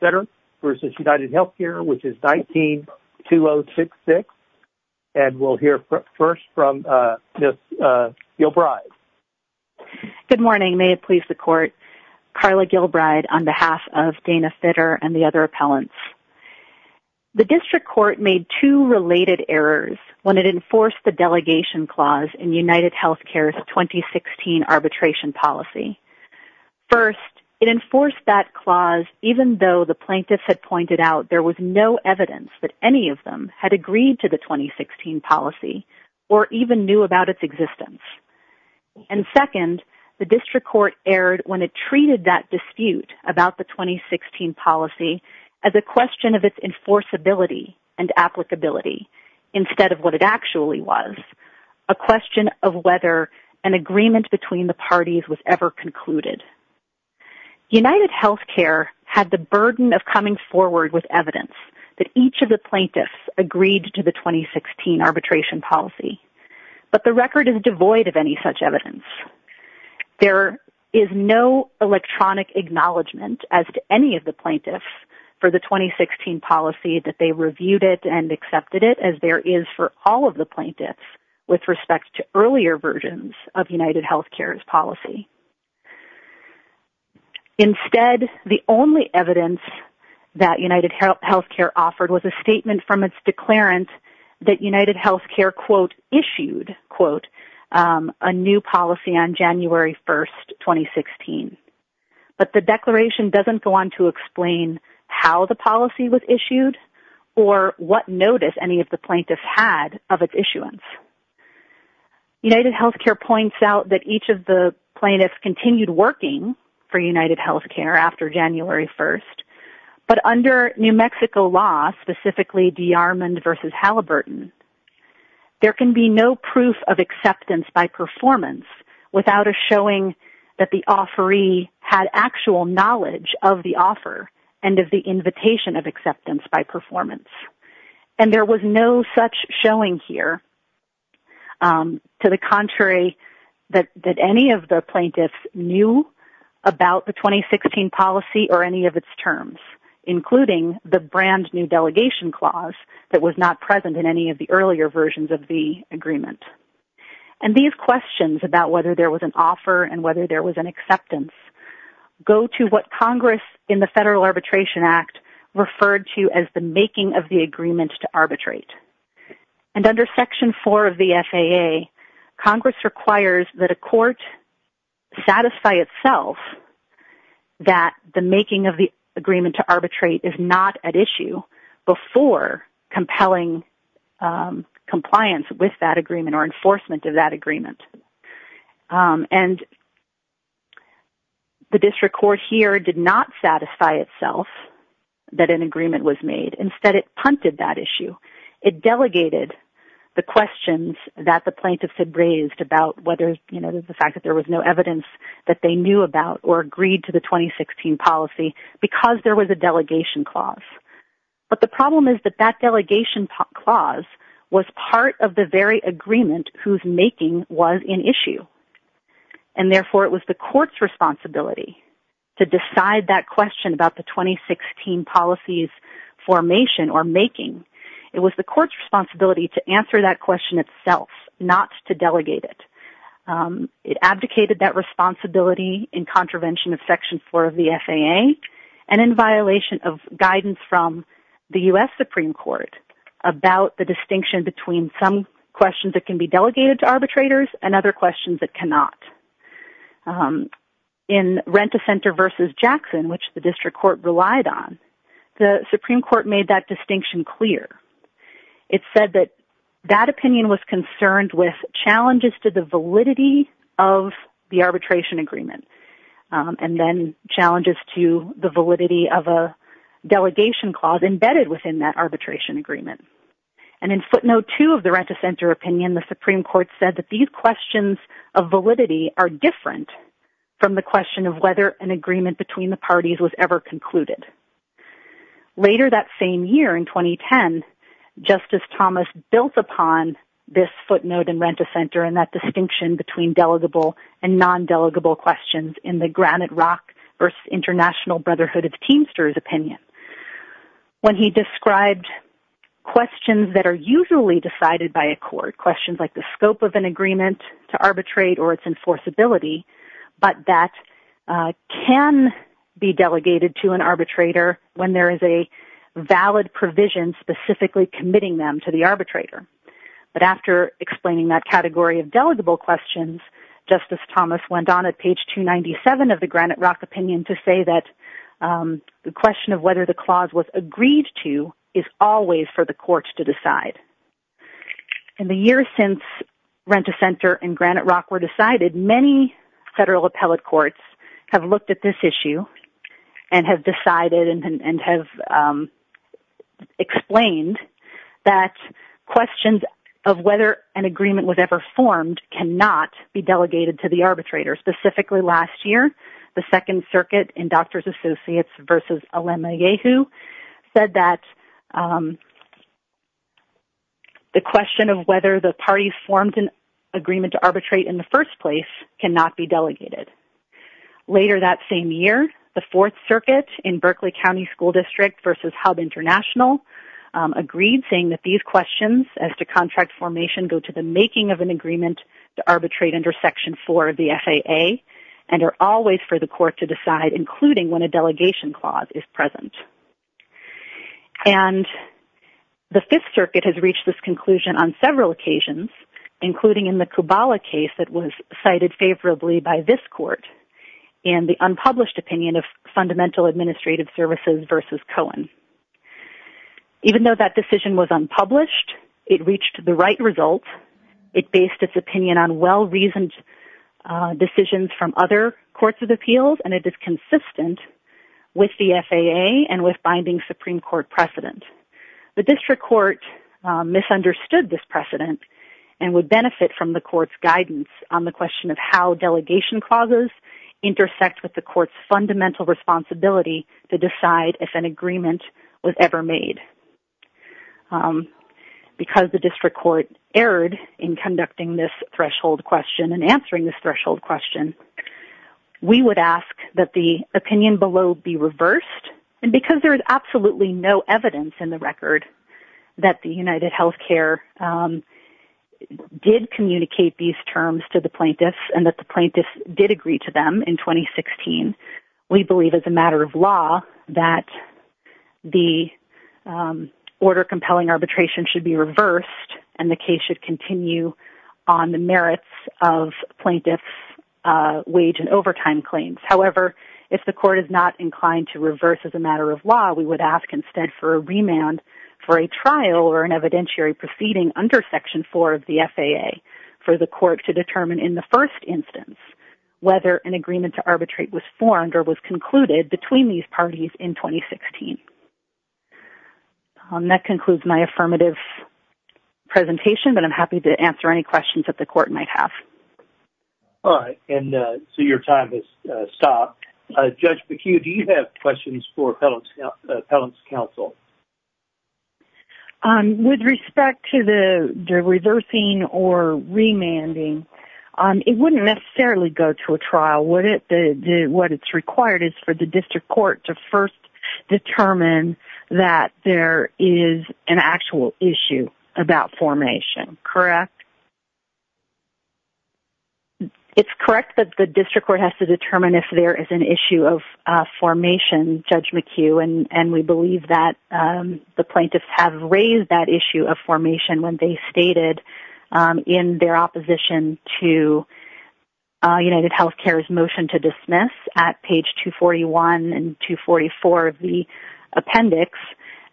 v. United Healthcare, which is 19-2066. And we'll hear first from Ms. Gilbride. Good morning. May it please the Court, Carla Gilbride on behalf of Dana Fitter and the other appellants. The District Court made two related errors when it enforced the delegation clause in United Healthcare's 2016 arbitration policy. First, it enforced that clause even though the plaintiffs had pointed out there was no evidence that any of them had agreed to the 2016 policy or even knew about its existence. And second, the District Court erred when it treated that dispute about the 2016 policy as a question of its enforceability and applicability instead of what it actually was, a question of whether an agreement between the parties was ever concluded. United Healthcare had the burden of coming forward with evidence that each of the plaintiffs agreed to the 2016 arbitration policy, but the record is devoid of any such evidence. There is no electronic acknowledgment as to any of the plaintiffs for the 2016 policy that they reviewed it and accepted it as there is for all of the plaintiffs with respect to earlier versions of United Healthcare's policy. Instead, the only evidence that United Healthcare offered was a statement from its declarant that United Healthcare, quote, issued, quote, a new policy on January 1st, 2016. But the declaration doesn't go on to explain how the policy was issued or what notice any of the plaintiffs had of its issuance. United Healthcare points out that each of the plaintiffs continued working for United Healthcare after January 1st, but under New Mexico law, specifically DeArmond v. Halliburton, there can be no proof of acceptance by performance without a showing that the offeree had actual knowledge of the offer and of the invitation of acceptance by performance. And there was no such showing here to the contrary that any of the plaintiffs knew about the 2016 policy or any of its terms, including the brand new delegation clause that was not present in any of the earlier versions of the agreement. And these questions about whether there was an offer and whether there was an acceptance go to what Congress in referred to as the making of the agreement to arbitrate. And under Section 4 of the FAA, Congress requires that a court satisfy itself that the making of the agreement to arbitrate is not at issue before compelling compliance with that agreement or enforcement of that agreement. And the district court here did not satisfy itself that an agreement was made. Instead, it punted that issue. It delegated the questions that the plaintiffs had raised about whether, you know, the fact that there was no evidence that they knew about or agreed to the 2016 policy because there was a delegation clause. But the problem is that that delegation clause was part of the very agreement whose making was an issue. And therefore, it was the court's responsibility to decide that question about the 2016 policies formation or making. It was the court's responsibility to answer that question itself, not to delegate it. It abdicated that responsibility in contravention of Section 4 of the FAA and in violation of guidance from the U.S. Supreme Court about the distinction between some questions that can be delegated to arbitrators and other questions that cannot. In Rent-a-Center versus Jackson, which the district court relied on, the Supreme Court made that distinction clear. It said that that opinion was concerned with challenges to the validity of the arbitration agreement and then challenges to the validity of a delegation clause embedded within that arbitration agreement. And in footnote 2 of the Rent-a-Center opinion, the Supreme Court said that these questions of validity are different from the question of whether an agreement between the parties was ever concluded. Later that same year in 2010, Justice Thomas built upon this footnote in Rent-a-Center and that distinction between delegable and non-delegable questions in the Granite Rock versus International Brotherhood of Teamsters opinion. When he described questions that are usually decided by a court, questions like the scope of an agreement to arbitrate or its enforceability, but that can be delegated to an arbitrator when there is a valid provision specifically committing them to the arbitrator. But after explaining that category of delegable questions, Justice Thomas went on at page 297 of the Granite Rock opinion to say that the question of whether the clause was agreed to is always for the court to decide. In the years since Rent-a-Center and Granite Rock were decided, many federal appellate have looked at this issue and have decided and have explained that questions of whether an agreement was ever formed cannot be delegated to the arbitrator. Specifically, last year, the Second Circuit in Doctors Associates versus Olima Yehu said that the question of whether the parties formed an agreement to arbitrate in the first place cannot be delegated. Later that same year, the Fourth Circuit in Berkeley County School District versus Hub International agreed saying that these questions as to contract formation go to the making of an agreement to arbitrate under Section 4 of the FAA and are always for the court to decide, including when a delegation clause is present. And the Fifth Circuit has reached this conclusion on several occasions, including in the Kubala case that was cited favorably by this court in the unpublished opinion of Fundamental Administrative Services versus Cohen. Even though that decision was unpublished, it reached the right result. It based its opinion on well-reasoned decisions from other courts of appeals and it is consistent with the FAA and with binding Supreme Court precedent. The district court misunderstood this precedent and would benefit from the court's guidance on the question of how delegation clauses intersect with the court's fundamental responsibility to decide if an agreement was ever made. Because the district court erred in conducting this threshold question and answering this and because there is absolutely no evidence in the record that the UnitedHealthcare did communicate these terms to the plaintiffs and that the plaintiffs did agree to them in 2016, we believe as a matter of law that the order compelling arbitration should be reversed and the case should continue on the merits of plaintiffs' wage and overtime claims. However, if the court is not inclined to reverse as a matter of law, we would ask instead for a remand for a trial or an evidentiary proceeding under Section 4 of the FAA for the court to determine in the first instance whether an agreement to arbitrate was formed or was concluded between these parties in 2016. That concludes my affirmative presentation, but I'm happy to Judge McHugh, do you have questions for Appellant's counsel? With respect to the reversing or remanding, it wouldn't necessarily go to a trial. What it's required is for the district court to first determine that there is an actual issue about formation, correct? It's correct that the district court has to determine if there is an issue of formation, Judge McHugh, and we believe that the plaintiffs have raised that issue of formation when they stated in their opposition to UnitedHealthcare's motion to dismiss at page 241 and 244 of the appendix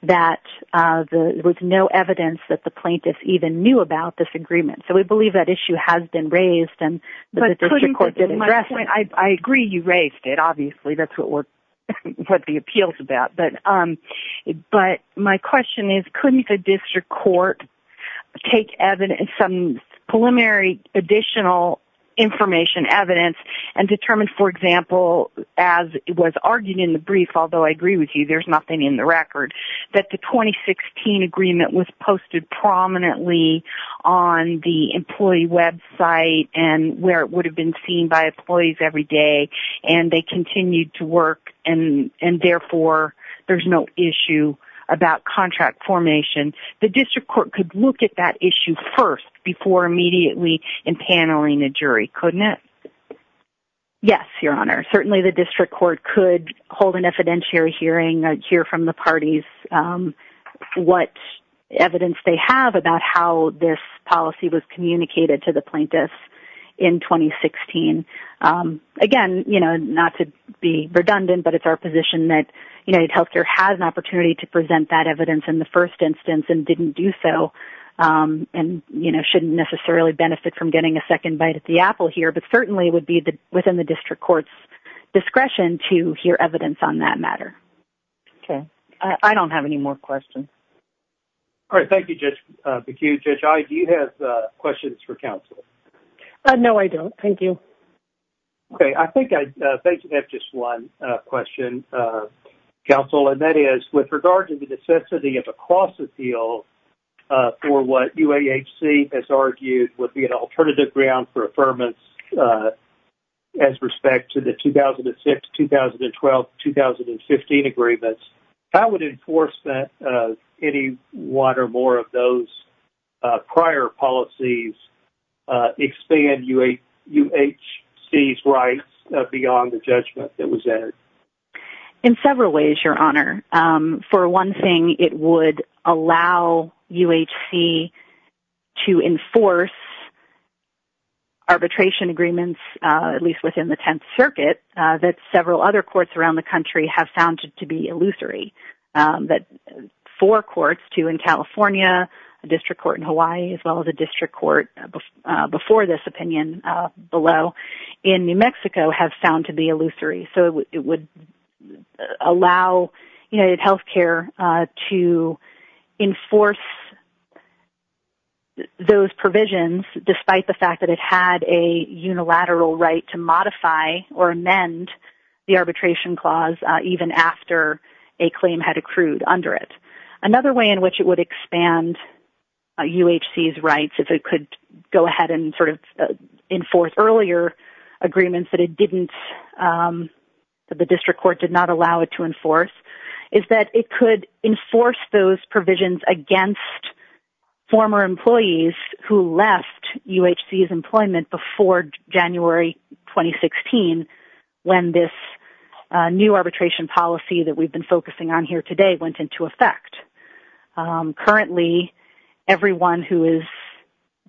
that there was no evidence that the plaintiffs even knew about this agreement. So we believe that issue has been raised and the district court I agree you raised it, obviously, that's what the appeal's about. But my question is, couldn't the district court take some preliminary additional information, evidence, and determine, for example, as it was argued in the brief, although I agree with you there's nothing in the record, that the 2016 agreement was posted prominently on the employee website and where every day and they continued to work and therefore there's no issue about contract formation. The district court could look at that issue first before immediately impaneling the jury, couldn't it? Yes, Your Honor. Certainly the district court could hold an evidentiary hearing, hear from the parties what evidence they have about how this policy was communicated to the plaintiffs in 2016. Again, not to be redundant, but it's our position that UnitedHealthcare has an opportunity to present that evidence in the first instance and didn't do so and shouldn't necessarily benefit from getting a second bite at the apple here, but certainly would be within the district court's discretion to hear evidence on that matter. Okay. I don't have any more questions. All right. Thank you, Judge McHugh. Judge Iye, do you have questions for counsel? No, I don't. Thank you. Okay. I think I have just one question, counsel, and that is with regard to the necessity of a cross-appeal for what UAHC has argued would be an alternative ground for affirmance as respect to the 2006, 2012, 2015 agreements. How would enforcement of any one or more of those prior policies expand UAHC's rights beyond the judgment that was entered? In several ways, Your Honor. For one thing, it would allow UAHC to enforce arbitration agreements, at least within the Tenth Circuit, that several other courts around the country have found to be illusory, that four courts, two in California, a district court in Hawaii, as well as a district court before this opinion below in New Mexico, have found to be a unilateral right to modify or amend the arbitration clause even after a claim had accrued under it. Another way in which it would expand UAHC's rights, if it could go ahead and sort of enforce earlier agreements that the district court did not allow it to enforce, is that it could enforce those provisions against former employees who left UAHC's employment before January 2016, when this new arbitration policy that we've been focusing on here today went into effect. Currently, everyone who is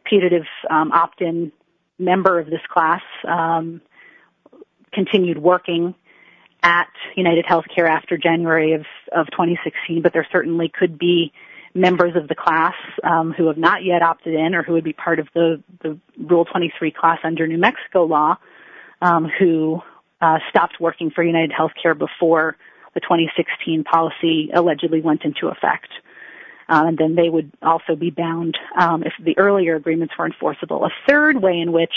putative opt-in member of this class has continued working at UnitedHealthcare after January of 2016, but there certainly could be members of the class who have not yet opted in or who would be part of the Rule 23 class under New Mexico law who stopped working for UnitedHealthcare before the 2016 policy allegedly went into effect. And then they would also be bound if the earlier agreements were enforceable. A third way in which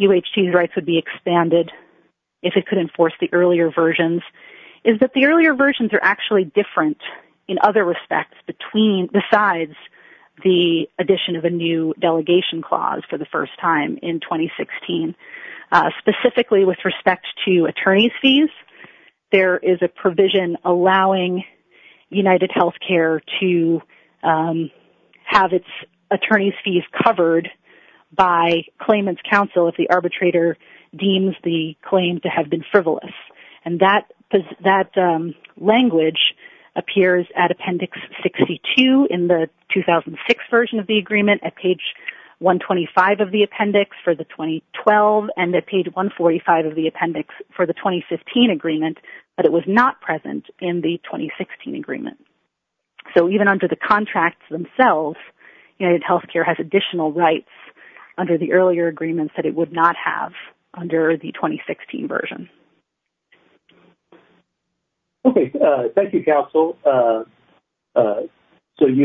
UAHC's rights would be expanded, if it could enforce the earlier versions, is that the earlier versions are actually different in other respects besides the addition of a new delegation clause for the first time in 2016. Specifically with respect to attorney's fees, there is a provision allowing UnitedHealthcare to have its attorney's fees covered by claimant's counsel if the arbitrator deems the claim to have been frivolous. And that language appears at Appendix 62 in the 2006 version of the agreement, at page 125 of the appendix for the 2012, and at page 145 of the appendix for the 2015 agreement, but it was not present in the 2016 agreement. So, even under the contracts themselves, UnitedHealthcare has additional rights under the earlier agreements that it would not have under the 2016 version. Okay. Thank you, counsel. So,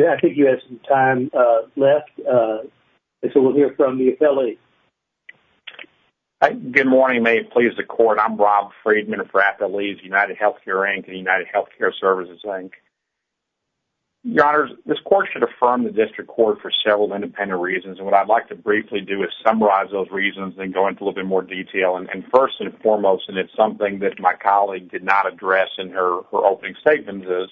I think you have some time left. So, we'll hear from the affiliate. Good morning. May it please the court. I'm Rob Friedman for Affiliates, UnitedHealthcare, Inc., UnitedHealthcareServices, Inc. Your Honors, this court should affirm the district court for several independent reasons, and what I'd like to briefly do is summarize those reasons, then go into a little bit more detail. And first and foremost, and it's something that my colleague did not address in her opening statements, is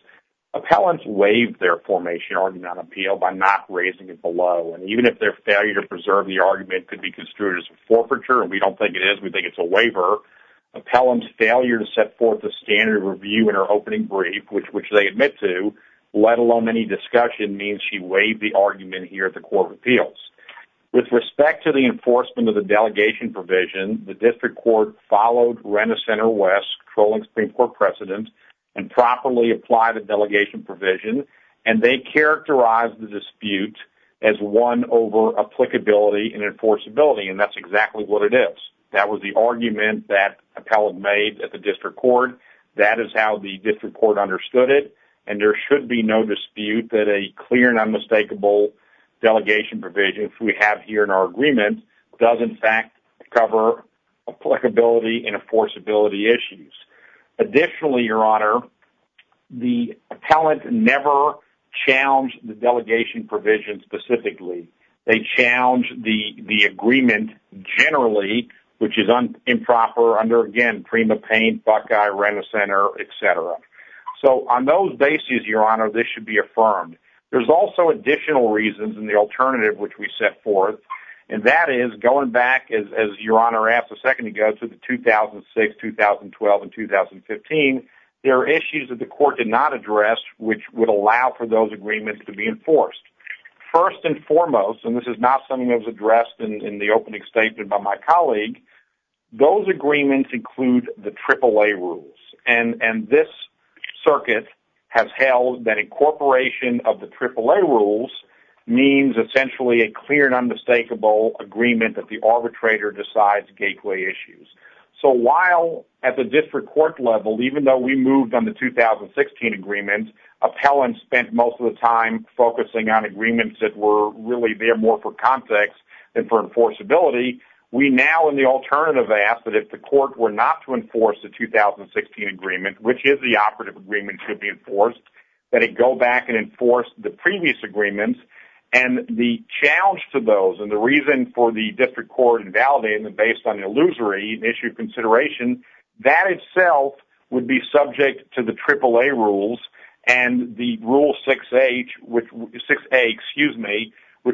appellants waived their formation argument on appeal by not raising it below. And even if their failure to preserve the argument could be construed as a forfeiture, and we don't think it is, we think it's a waiver, appellants' failure to set the standard of review in her opening brief, which they admit to, let alone any discussion, means she waived the argument here at the Court of Appeals. With respect to the enforcement of the delegation provision, the district court followed Rena Center West, trolling Supreme Court precedent, and properly applied the delegation provision, and they characterized the dispute as one over applicability and enforceability, and that's exactly what it is. That was the argument that appellant made at the district court. That is how the district court understood it, and there should be no dispute that a clear and unmistakable delegation provision, as we have here in our agreement, does in fact cover applicability and enforceability issues. Additionally, Your Honor, the appellant never challenged the delegation provision specifically. They challenged the agreement generally, which is improper under, again, Prima Paint, Buckeye, Rena Center, et cetera. So on those bases, Your Honor, this should be affirmed. There's also additional reasons and the alternative which we set forth, and that is going back, as Your Honor asked a second ago, to the 2006, 2012, and 2015. There are issues that the court did not address which would allow for those agreements to be enforced. First and foremost, and this is not something that was addressed in the opening statement by my colleague, those agreements include the AAA rules, and this circuit has held that incorporation of the AAA rules means essentially a clear and unmistakable agreement that the arbitrator decides gateway issues. So while at the district court level, even though we moved on the 2016 agreement, appellants spent most of the time focusing on agreements that were really there more for context and for enforceability. We now, in the alternative, ask that if the court were not to enforce the 2016 agreement, which is the operative agreement should be enforced, that it go back and enforce the previous agreements. And the challenge to those, and the reason for the district court invalidating them based on an illusory issue consideration, that itself would be subject to the AAA rules and the Rule 6A, which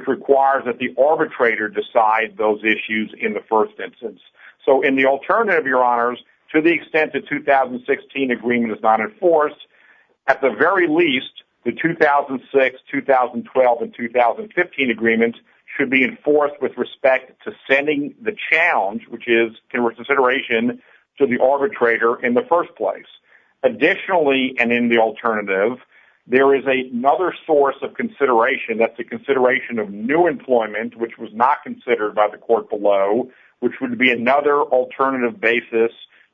requires that the arbitrator decide those issues in the first instance. So in the alternative, Your Honors, to the extent the 2016 agreement is not enforced, at the very least, the 2006, 2012, and 2015 agreements should be enforced with respect to sending the challenge, which is consideration, to the arbitrator in the first place. Additionally, and in the alternative, there is another source of consideration that's a consideration of new employment, which was not considered by the court below, which would be another alternative basis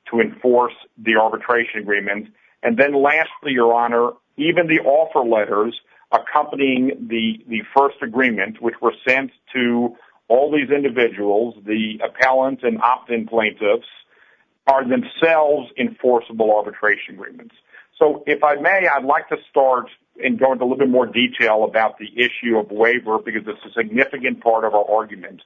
to enforce the arbitration agreement. And then lastly, Your Honor, even the offer letters accompanying the first agreement, which were sent to all these individuals, the appellant and opt-in plaintiffs, are themselves enforceable arbitration agreements. So if I may, I'd like to start and go into a little bit more detail about the issue of waiver, because it's a significant part of our argument.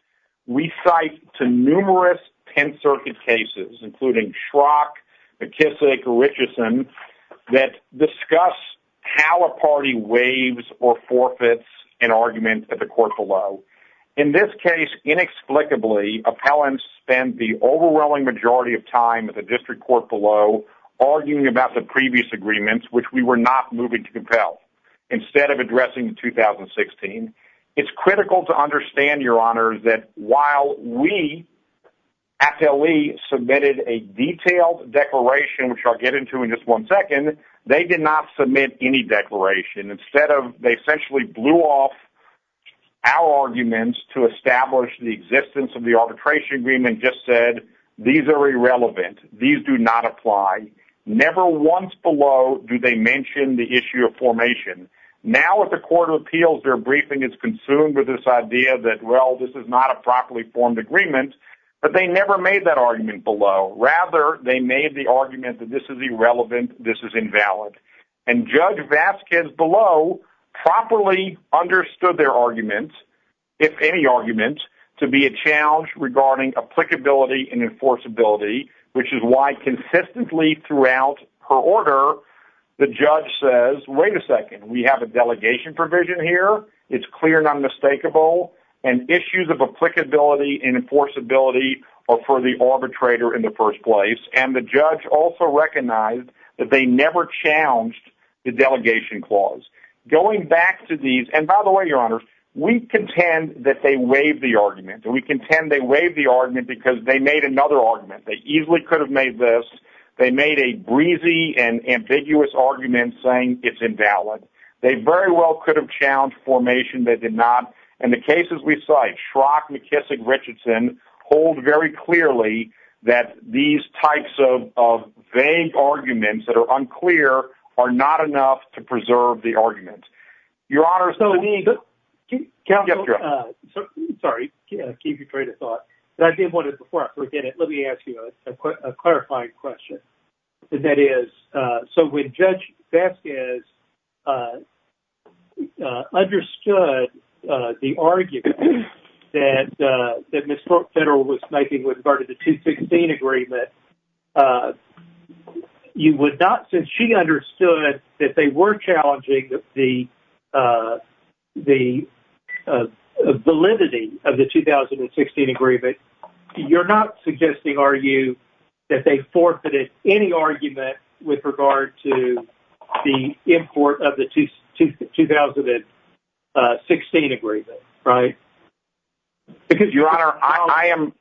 We cite to numerous 10th Circuit cases, including Schrock, McKissick, Richardson, that discuss how a party waives or forfeits an argument at the court below. In this case, inexplicably, appellants spend the overwhelming majority of time at the district court below arguing about the previous agreements, which we were not moving to compel, instead of addressing in 2016. It's critical to understand, Your Honor, that while we at LA submitted a detailed declaration, which I'll get into in just one second, they did not submit any declaration. They essentially blew off our arguments to establish the existence of the arbitration agreement, just said, these are irrelevant, these do not apply. Never once below do they mention the issue of formation. Now at the Court of Appeals, their briefing is consumed with this idea that, well, this is not a properly formed agreement, but they never made that argument below. Rather, they made the argument that this is irrelevant, this is invalid. And Judge Vasquez below properly understood their argument, if any argument, to be a challenge regarding applicability and enforceability, which is why consistently throughout her order, the judge says, wait a second, we have a delegation provision here, it's clear and unmistakable, and issues of applicability and enforceability are for the arbitrator in the first place. And the judge also recognized that they never challenged the delegation clause. Going back to these, and by the way, Your Honor, we contend that they waived the argument, and we contend they waived the argument because they made another argument. They easily could have made this, they made a breezy and ambiguous argument saying it's invalid. They very well could have challenged formation, they did not. And the cases we cite, Schrock, McKissick, Richardson, hold very clearly that these types of vague arguments that are unclear are not enough to preserve the argument. Your Honor. Sorry, I gave you a train of thought, but I did want to, before I forget it, let me ask you a clarifying question. And that is, so when Judge Vasquez understood the argument that Ms. Schrock Federal was making with regard to the 216 agreement, you would not, since she understood that they were challenging the validity of the 2016 agreement, you're not suggesting, are you, that they forfeited any argument with regard to the import of the 2016 agreement, right? Because, Your Honor, I am,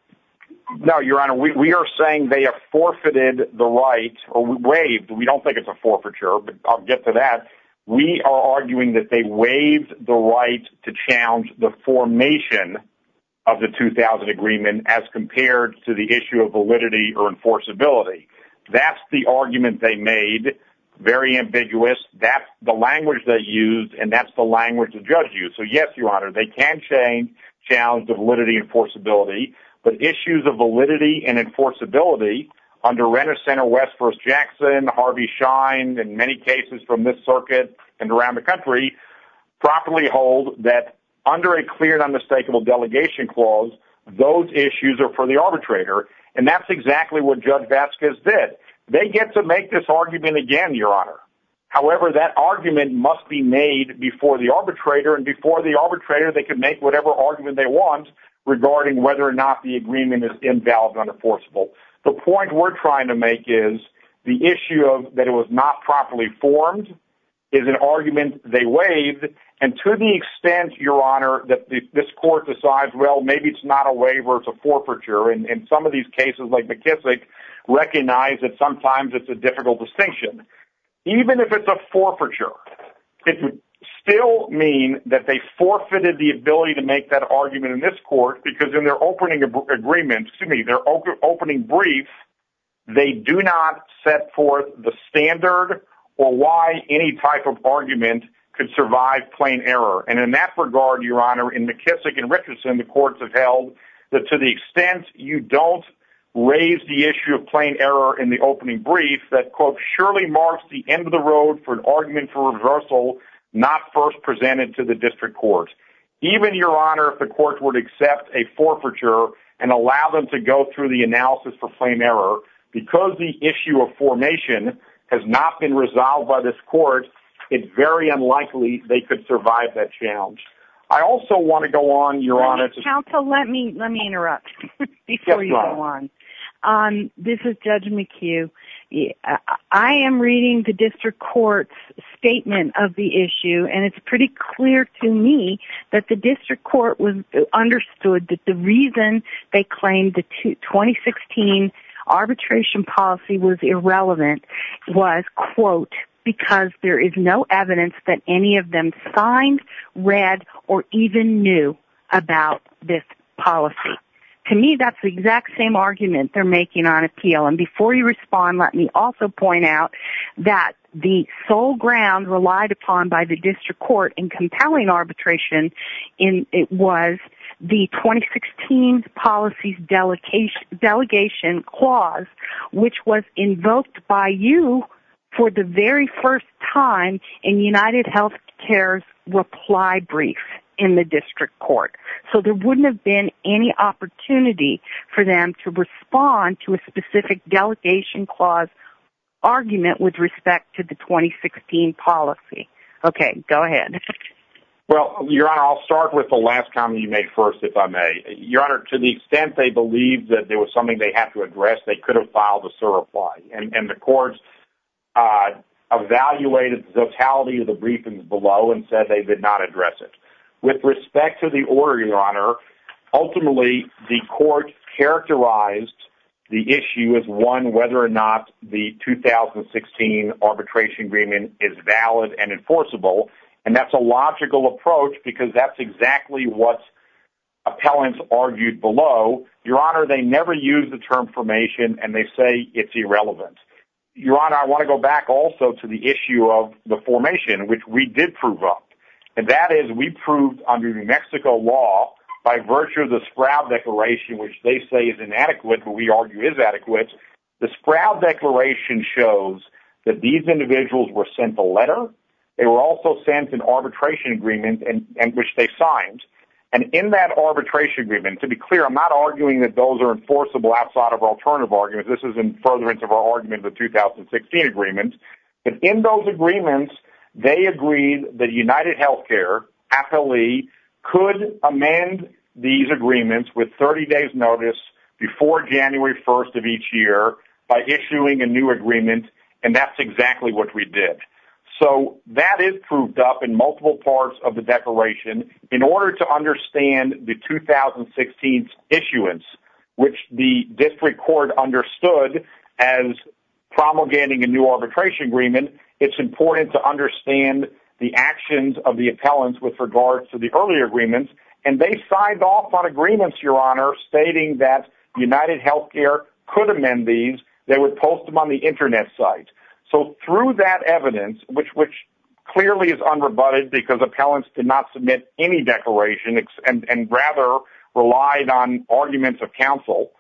no, Your Honor, we are saying that they have forfeited the right, or waived, we don't think it's a forfeiture, but I'll get to that. We are arguing that they waived the right to challenge the formation of the 2000 agreement as compared to the issue of validity or enforceability. That's the argument they made, very ambiguous, that's the language they used, and that's the language the judge used. So yes, Your Honor, they can change, challenge the validity and enforceability, but issues of under Renner Center, West First Jackson, Harvey Schein, and many cases from this circuit, and around the country, properly hold that under a clear and unmistakable delegation clause, those issues are for the arbitrator, and that's exactly what Judge Vasquez did. They get to make this argument again, Your Honor. However, that argument must be made before the arbitrator, and before the arbitrator, they can make whatever argument they want regarding whether or not the agreement is invalid and unenforceable. The point we're trying to make is the issue of that it was not properly formed is an argument they waived, and to the extent, Your Honor, that this court decides, well, maybe it's not a waiver, it's a forfeiture, and some of these cases, like McKissick, recognize that sometimes it's a difficult distinction. Even if it's a forfeiture, it would still mean that they forfeited the ability to make that argument in this court, because in their opening agreement, excuse me, their opening brief, they do not set forth the standard or why any type of argument could survive plain error, and in that regard, Your Honor, in McKissick and Richardson, the courts have held that to the extent you don't raise the issue of plain error in the opening brief, that, quote, surely marks the end of the road for an argument for reversal not first presented to the district court. Even, Your Honor, if the court were to accept a forfeiture and allow them to go through the analysis for plain error, because the issue of formation has not been resolved by this court, it's very unlikely they could survive that challenge. I also want to go on, Your Honor, to... Counsel, let me interrupt before you go on. This is Judge McHugh. I am reading the district court's statement of the issue, and it's pretty clear to me that the district court understood that the reason they claimed the 2016 arbitration policy was irrelevant was, quote, because there is no evidence that any of them signed, read, or even knew about this policy. To me, that's the exact same argument they're making on appeal, and before you respond, let me also point out that the sole ground relied upon by the district court in compelling arbitration was the 2016 policy's delegation clause, which was invoked by you for the very first time in UnitedHealthcare's reply brief in the district court. So there wouldn't have been any opportunity for them to respond to a specific delegation clause argument with respect to the 2016 policy. Okay, go ahead. Well, Your Honor, I'll start with the last comment you made first, if I may. Your Honor, to the extent they believed that there was something they had to address, they could have filed a SIR reply, and the court evaluated the totality of the briefings below and said they did not address it. With respect to the order, Your Honor, ultimately, the court characterized the issue as one whether or not the 2016 arbitration agreement is valid and enforceable, and that's a logical approach because that's exactly what appellants argued below. Your Honor, they never use the term formation, and they say it's irrelevant. Your Honor, I want to go back also to the issue of the formation, which we did prove up, and that is we proved under New Mexico law by virtue of the Sproud Declaration, which they say is inadequate, but we argue is adequate. The Sproud Declaration shows that these individuals were sent a letter. They were also sent an arbitration agreement, which they signed, and in that arbitration agreement, to be clear, I'm not arguing that those are enforceable outside of alternative arguments. This is in furtherance of our argument of the 2016 agreement, but in those agreements, they agreed that UnitedHealthcare affilee could amend these agreements with 30 days' notice before January 1st of each year by issuing a new agreement, and that's exactly what we did. So that is proved up in multiple parts of the declaration. In order to understand the 2016 issuance, which the district court understood as promulgating a new arbitration agreement, it's important to understand the actions of the appellants with regard to the earlier agreements, and they signed off on agreements, Your Honor, stating that UnitedHealthcare could amend these. They would post them on the Internet site. So through that evidence, which clearly is unrebutted because appellants did not submit any declaration and rather relied on arguments of counsel,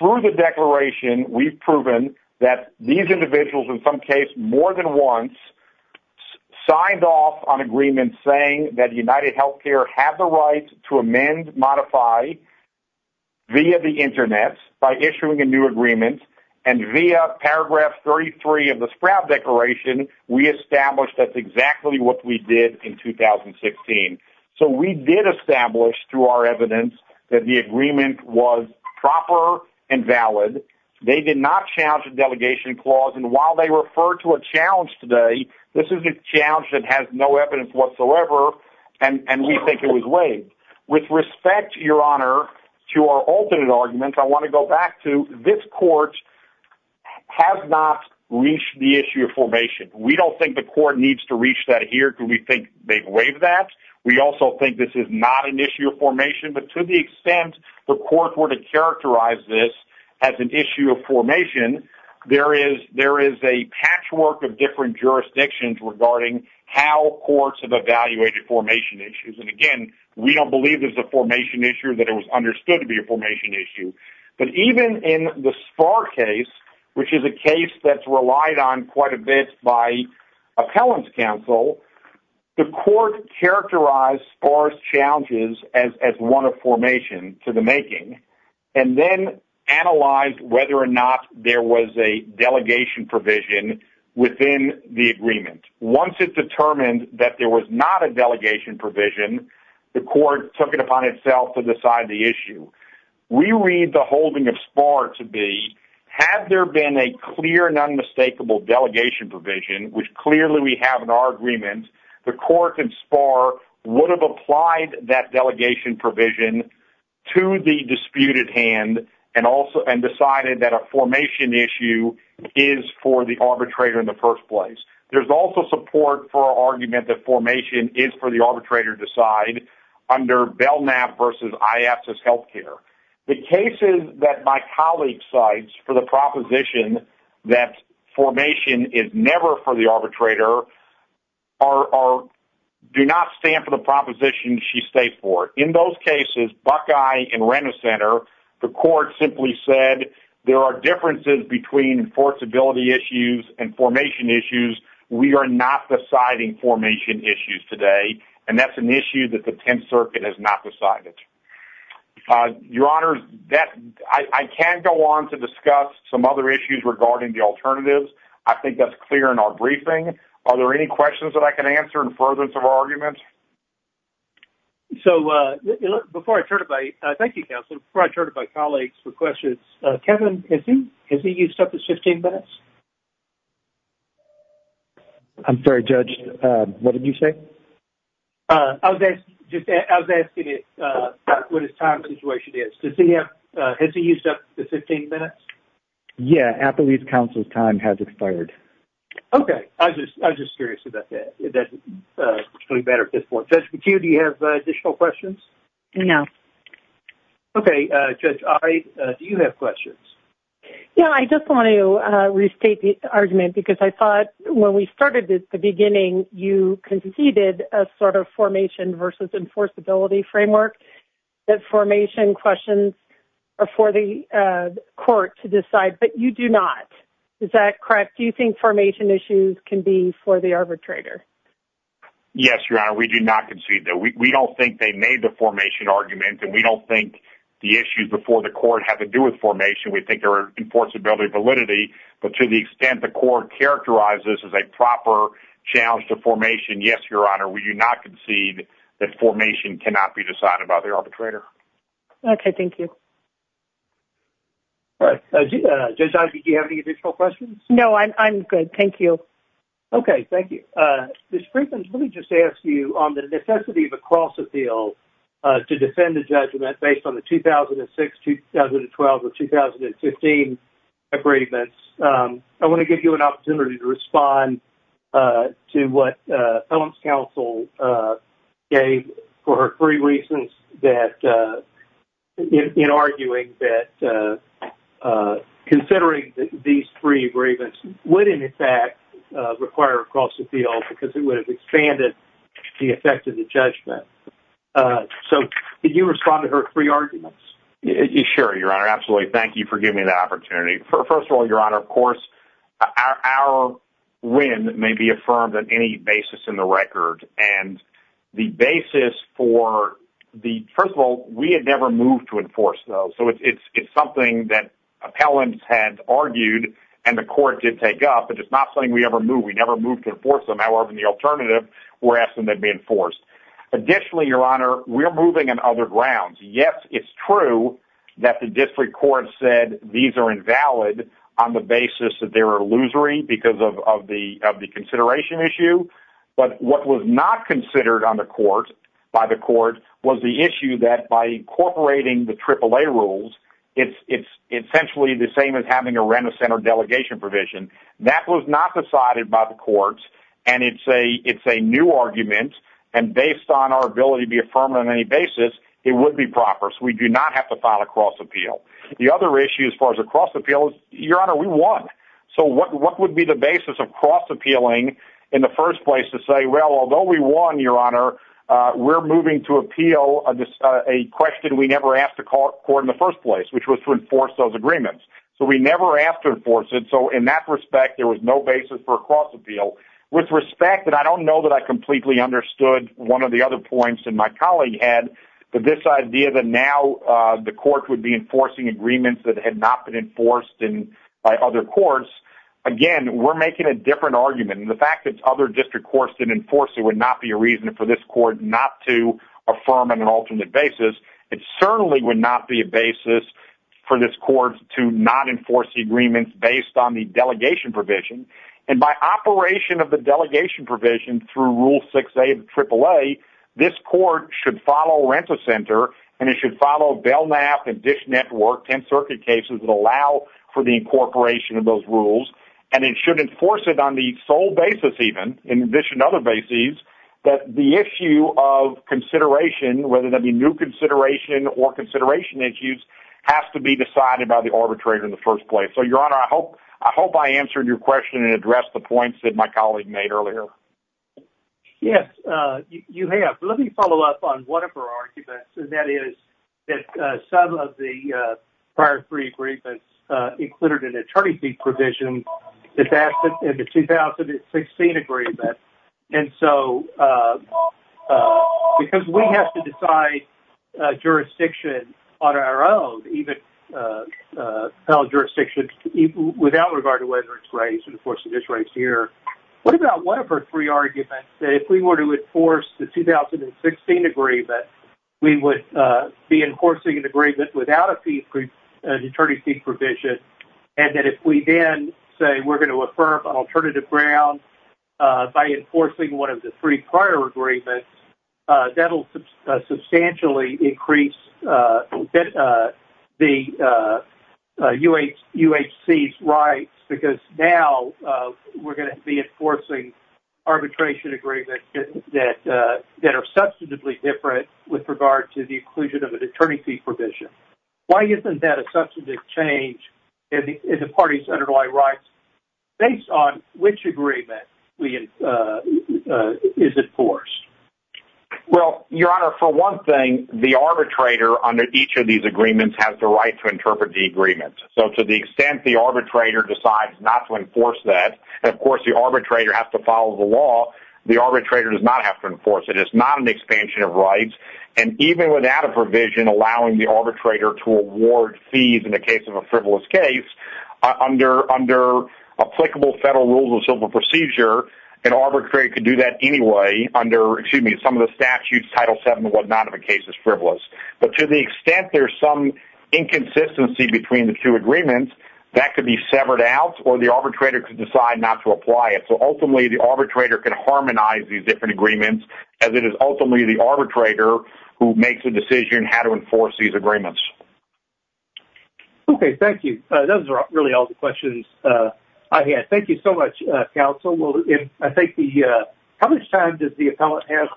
through the declaration, we've proven that these individuals in some case more than once signed off on agreements saying that UnitedHealthcare had the right to amend, modify via the Internet by issuing a new agreement, and via paragraph 33 of the Sprout Declaration, we established that's exactly what we did in 2016. So we did establish through our evidence that the agreement was proper and valid. They did not challenge the delegation clause, and while they refer to a challenge today, this is a challenge that has no evidence whatsoever, and we think it was waived. With respect, Your Honor, to our alternate argument, I want to go back to this court has not reached the issue of formation. We don't think the court needs to reach that here because we think they've waived that. We also think this is not an issue of formation, but to the extent the court were to characterize this as an issue of formation, there is a patchwork of different jurisdictions regarding how courts have evaluated formation issues, and again, we don't believe there's a formation issue, that it was understood to be a formation issue, but even in the Sparr case, which is a case that's relied on quite a bit by Appellant's Council, the court characterized Sparr's challenges as one of formation to the making, and then analyzed whether or not there was a delegation provision within the agreement. Once it determined that there was not a delegation provision, the court took it upon itself to decide the issue. We read the holding of Sparr to be, had there been a clear and unmistakable delegation provision, which clearly we have in our agreement, the court in Sparr would have applied that delegation provision to the disputed hand and decided that a formation issue is for the arbitrator in the agreement that formation is for the arbitrator to decide under Belknap versus Iapsus Healthcare. The cases that my colleague cites for the proposition that formation is never for the arbitrator do not stand for the proposition she stayed for. In those cases, Buckeye and Renner Center, the court simply said there are differences between enforceability issues and deciding formation issues today, and that's an issue that the Tenth Circuit has not decided. Your Honor, I can go on to discuss some other issues regarding the alternatives. I think that's clear in our briefing. Are there any questions that I can answer in furtherance of our argument? So, before I turn it by, thank you, Counselor, before I turn it by colleagues for questions, Kevin, has he used up his 15 minutes? I'm sorry, Judge, what did you say? I was just asking what his time situation is. Has he used up his 15 minutes? Yeah, after these counsel's time has expired. Okay, I was just curious about that. Judge McHugh, do you have additional questions? No. Okay, Judge Ari, do you have questions? Yeah, I just want to restate the argument because I thought when we started at the beginning, you conceded a sort of formation versus enforceability framework that formation questions are for the court to decide, but you do not. Is that correct? Do you think formation issues can be for the arbitrator? Yes, Your Honor, we do not concede that. We don't think they made the formation argument, and we don't think the issues before the court have to do with formation. We think they're enforceability validity, but to the extent the court characterized this as a proper challenge to formation, yes, Your Honor, we do not concede that formation cannot be decided by the arbitrator. Okay, thank you. All right, Judge Ivey, do you have any additional questions? No, I'm good. Thank you. Okay, thank you. Ms. Freedman, let me just ask you on the necessity of a cross-appeal to defend the judgment based on the 2006, 2012, or 2015 agreements. I want to give you an opportunity to respond to what Ellen's counsel gave for her three reasons in arguing that considering these three agreements wouldn't in fact require a cross-appeal because it would expand the effect of the judgment. So, could you respond to her three arguments? Sure, Your Honor. Absolutely. Thank you for giving me that opportunity. First of all, Your Honor, of course, our win may be affirmed on any basis in the record, and the basis for the—first of all, we had never moved to enforce those, so it's something that appellants had argued and the court did take up, but it's not something we ever moved. We never moved to enforce them. However, in the alternative, we're asking them to be enforced. Additionally, Your Honor, we're moving on other grounds. Yes, it's true that the district court said these are invalid on the basis that they were illusory because of the consideration issue, but what was not considered on the court—by the court—was the issue that by incorporating the AAA rules, it's essentially the same as having a remiss and or delegation provision. That was not decided by courts, and it's a new argument, and based on our ability to be affirmed on any basis, it would be proper, so we do not have to file a cross-appeal. The other issue as far as a cross-appeal is, Your Honor, we won. So, what would be the basis of cross-appealing in the first place to say, well, although we won, Your Honor, we're moving to appeal a question we never asked the court in the first place, which was to enforce those agreements. So, we never asked to appeal. With respect, and I don't know that I completely understood one of the other points that my colleague had, but this idea that now the court would be enforcing agreements that had not been enforced by other courts, again, we're making a different argument, and the fact that other district courts didn't enforce it would not be a reason for this court not to affirm on an alternate basis. It certainly would not be a basis for this court to not enforce the agreements based on the of the delegation provision through Rule 6A of the AAA, this court should follow Renta Center, and it should follow Belknap and Dish Network, 10 circuit cases that allow for the incorporation of those rules, and it should enforce it on the sole basis even, in addition to other bases, that the issue of consideration, whether that be new consideration or consideration issues, has to be decided by the arbitrator in the first place. So, Your Honor, I hope I answered your points that my colleague made earlier. Yes, you have. Let me follow up on one of our arguments, and that is that some of the prior three agreements included an attorney fee provision that's asked in the 2016 agreement, and so, because we have to decide jurisdiction on our own, even federal jurisdiction, without regard to whether it's right to enforce this right here, what about one of our three arguments that if we were to enforce the 2016 agreement, we would be enforcing an agreement without an attorney fee provision, and that if we then say we're going to affirm an alternative ground by enforcing one of the three prior agreements, that will substantially increase the UHC's rights because now we're going to be enforcing arbitration agreements that are substantively different with regard to the inclusion of an attorney fee provision. Why isn't that a substantive change in the parties' underlying rights based on which agreement is enforced? Well, Your Honor, for one thing, the arbitrator under each of these agreements has the right to interpret the agreement. So, to the extent the arbitrator decides not to enforce that, and of course the arbitrator has to follow the law, the arbitrator does not have to enforce it. It's not an expansion of rights, and even without a provision allowing the arbitrator to award fees in the case of a frivolous case, under applicable federal rules of civil procedure, an arbitrator could do that anyway under, excuse me, some of the statutes, Title VII and what not, if a case is frivolous. But to the extent there's some inconsistency between the two agreements, that could be severed out or the arbitrator could decide not to apply it. So, ultimately, the arbitrator can harmonize these different agreements as it is ultimately the arbitrator who makes a decision how to enforce these agreements. Okay, thank you. Those are really all the questions I had. Thank you so much, counsel. How much time does the appellant have?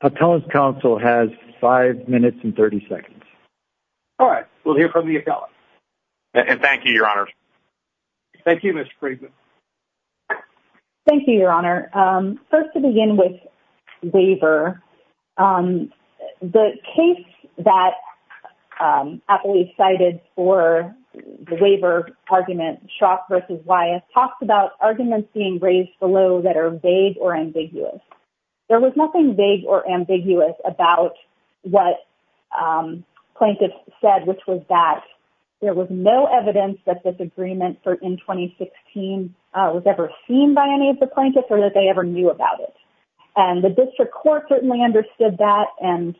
Appellant's counsel has five minutes and 30 seconds. All right, we'll hear from the appellant. And thank you, Your Honor. Thank you, Mr. Friedman. Thank you, Your Honor. First, to begin with waiver, the case that appellees cited for the waiver argument, Schrock v. Wyeth, talked about arguments being raised below that are vague or ambiguous. There was nothing vague or ambiguous about what plaintiffs said, which was that there was no evidence that this agreement for N-2016 was ever seen by any of the plaintiffs or that they ever knew about it. And the district court certainly understood that and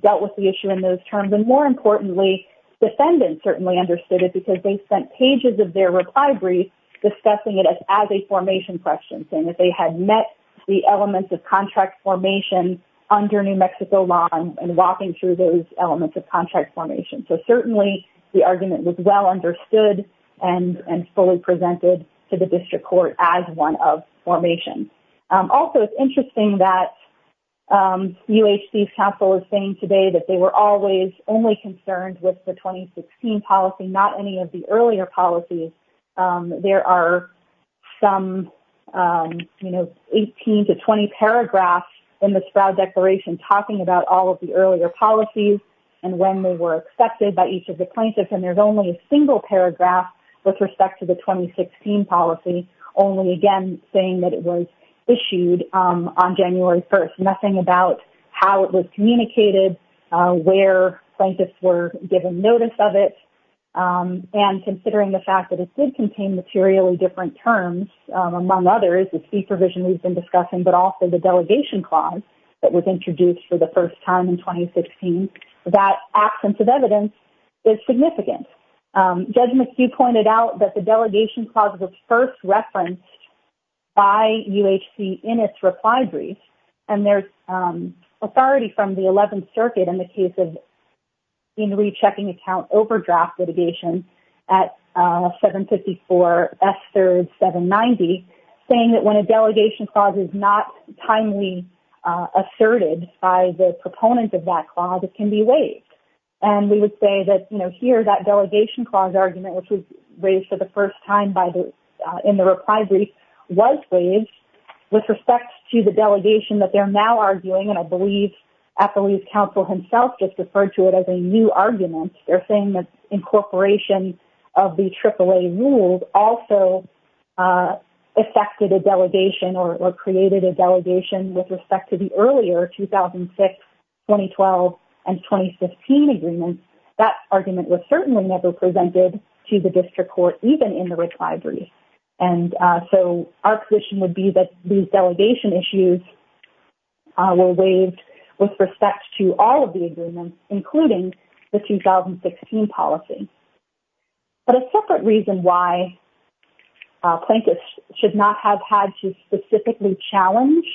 dealt with the issue in those terms. And, more importantly, defendants certainly understood it because they spent pages of their reply brief discussing it as a formation question, saying that they had met the elements of contract formation under New Mexico law and walking through those elements of contract formation. So, certainly, the argument was well understood and fully presented to the district court as one of formation. Also, it's interesting that UHC's counsel is saying today that they were always only concerned with the 2016 policy, not any of the earlier policies. There are some, you know, 18 to 20 paragraphs in the Sproud Declaration talking about all of the earlier policies and when they were accepted by each of the plaintiffs. And there's only a single paragraph with respect to the 2016 policy, only, again, saying that it was issued on January 1st. Nothing about how it was communicated, where plaintiffs were given notice of it, and considering the fact that it did contain materially different terms, among others, the fee provision we've been discussing, but also the delegation clause that was introduced for the that absence of evidence is significant. Judge McHugh pointed out that the delegation clause was first referenced by UHC in its reply brief and there's authority from the 11th Circuit in the case of in rechecking account overdraft litigation at 754 S. 3rd 790 saying that when And we would say that, you know, here that delegation clause argument, which was raised for the first time in the reply brief, was raised with respect to the delegation that they're now arguing, and I believe Appaloozie's counsel himself just referred to it as a new argument. They're saying that incorporation of the AAA rules also affected a delegation or created a delegation with respect to the earlier 2006, 2012, and 2015 agreements. That argument was certainly never presented to the district court, even in the reply brief, and so our position would be that these delegation issues were waived with respect to all of the agreements, including the 2016 policy. But a separate reason why plaintiffs should not have had to specifically challenge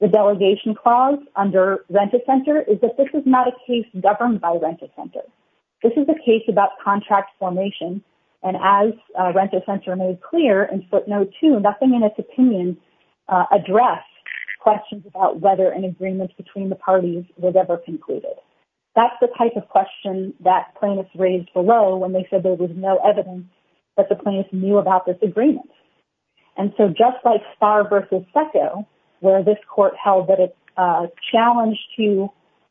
the delegation clause under Rent-A-Center is that this is not a case governed by Rent-A-Center. This is a case about contract formation, and as Rent-A-Center made clear in footnote two, nothing in its opinion addressed questions about whether an agreement between the parties was ever concluded. That's the type of question that plaintiffs raised below when they said there was no evidence that the plaintiffs knew about this agreement. And so just like Starr v. Secco, where this court held that a challenge to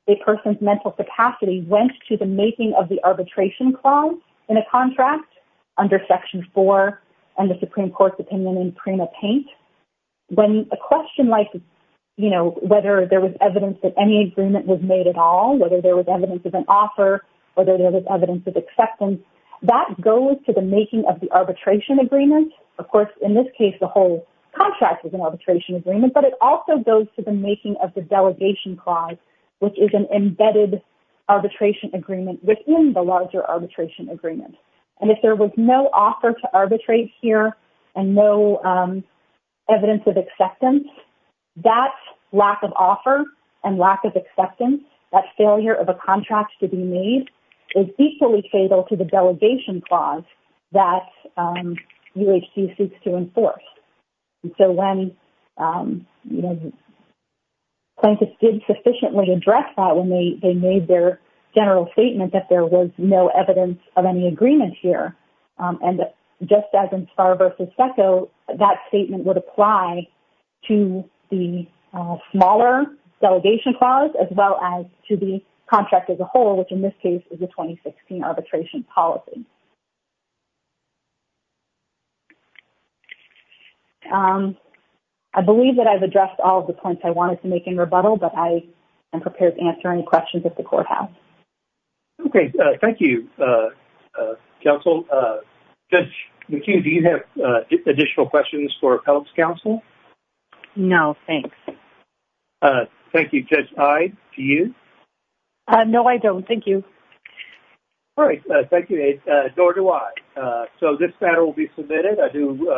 a person's mental capacity went to the making of the arbitration clause in a contract under Section 4 and the Supreme Court's opinion in Prima Paint, when a question like, you know, whether there was evidence that any agreement was made at all, whether there was evidence of an offer, whether of course in this case the whole contract was an arbitration agreement, but it also goes to the making of the delegation clause, which is an embedded arbitration agreement within the larger arbitration agreement. And if there was no offer to arbitrate here and no evidence of acceptance, that lack of offer and lack of acceptance, that failure of a contract to be made, is equally fatal to the delegation clause that UHC seeks to enforce. And so when, you know, plaintiffs did sufficiently address that when they made their general statement that there was no evidence of any agreement here, and just as in Starr v. Secco, that statement would apply to the smaller delegation clause as well as to the contract as a whole, which in this case is a 2016 arbitration policy. I believe that I've addressed all of the points I wanted to make in rebuttal, but I am prepared to answer any questions that the court has. Okay, thank you, counsel. Judge McKee, do you have additional questions for Appellate's counsel? No, thanks. Thank you, Judge Hyde. Do you? No, I don't. Thank you. All right. Thank you, Aide. Nor do I. So this matter will be submitted. I do...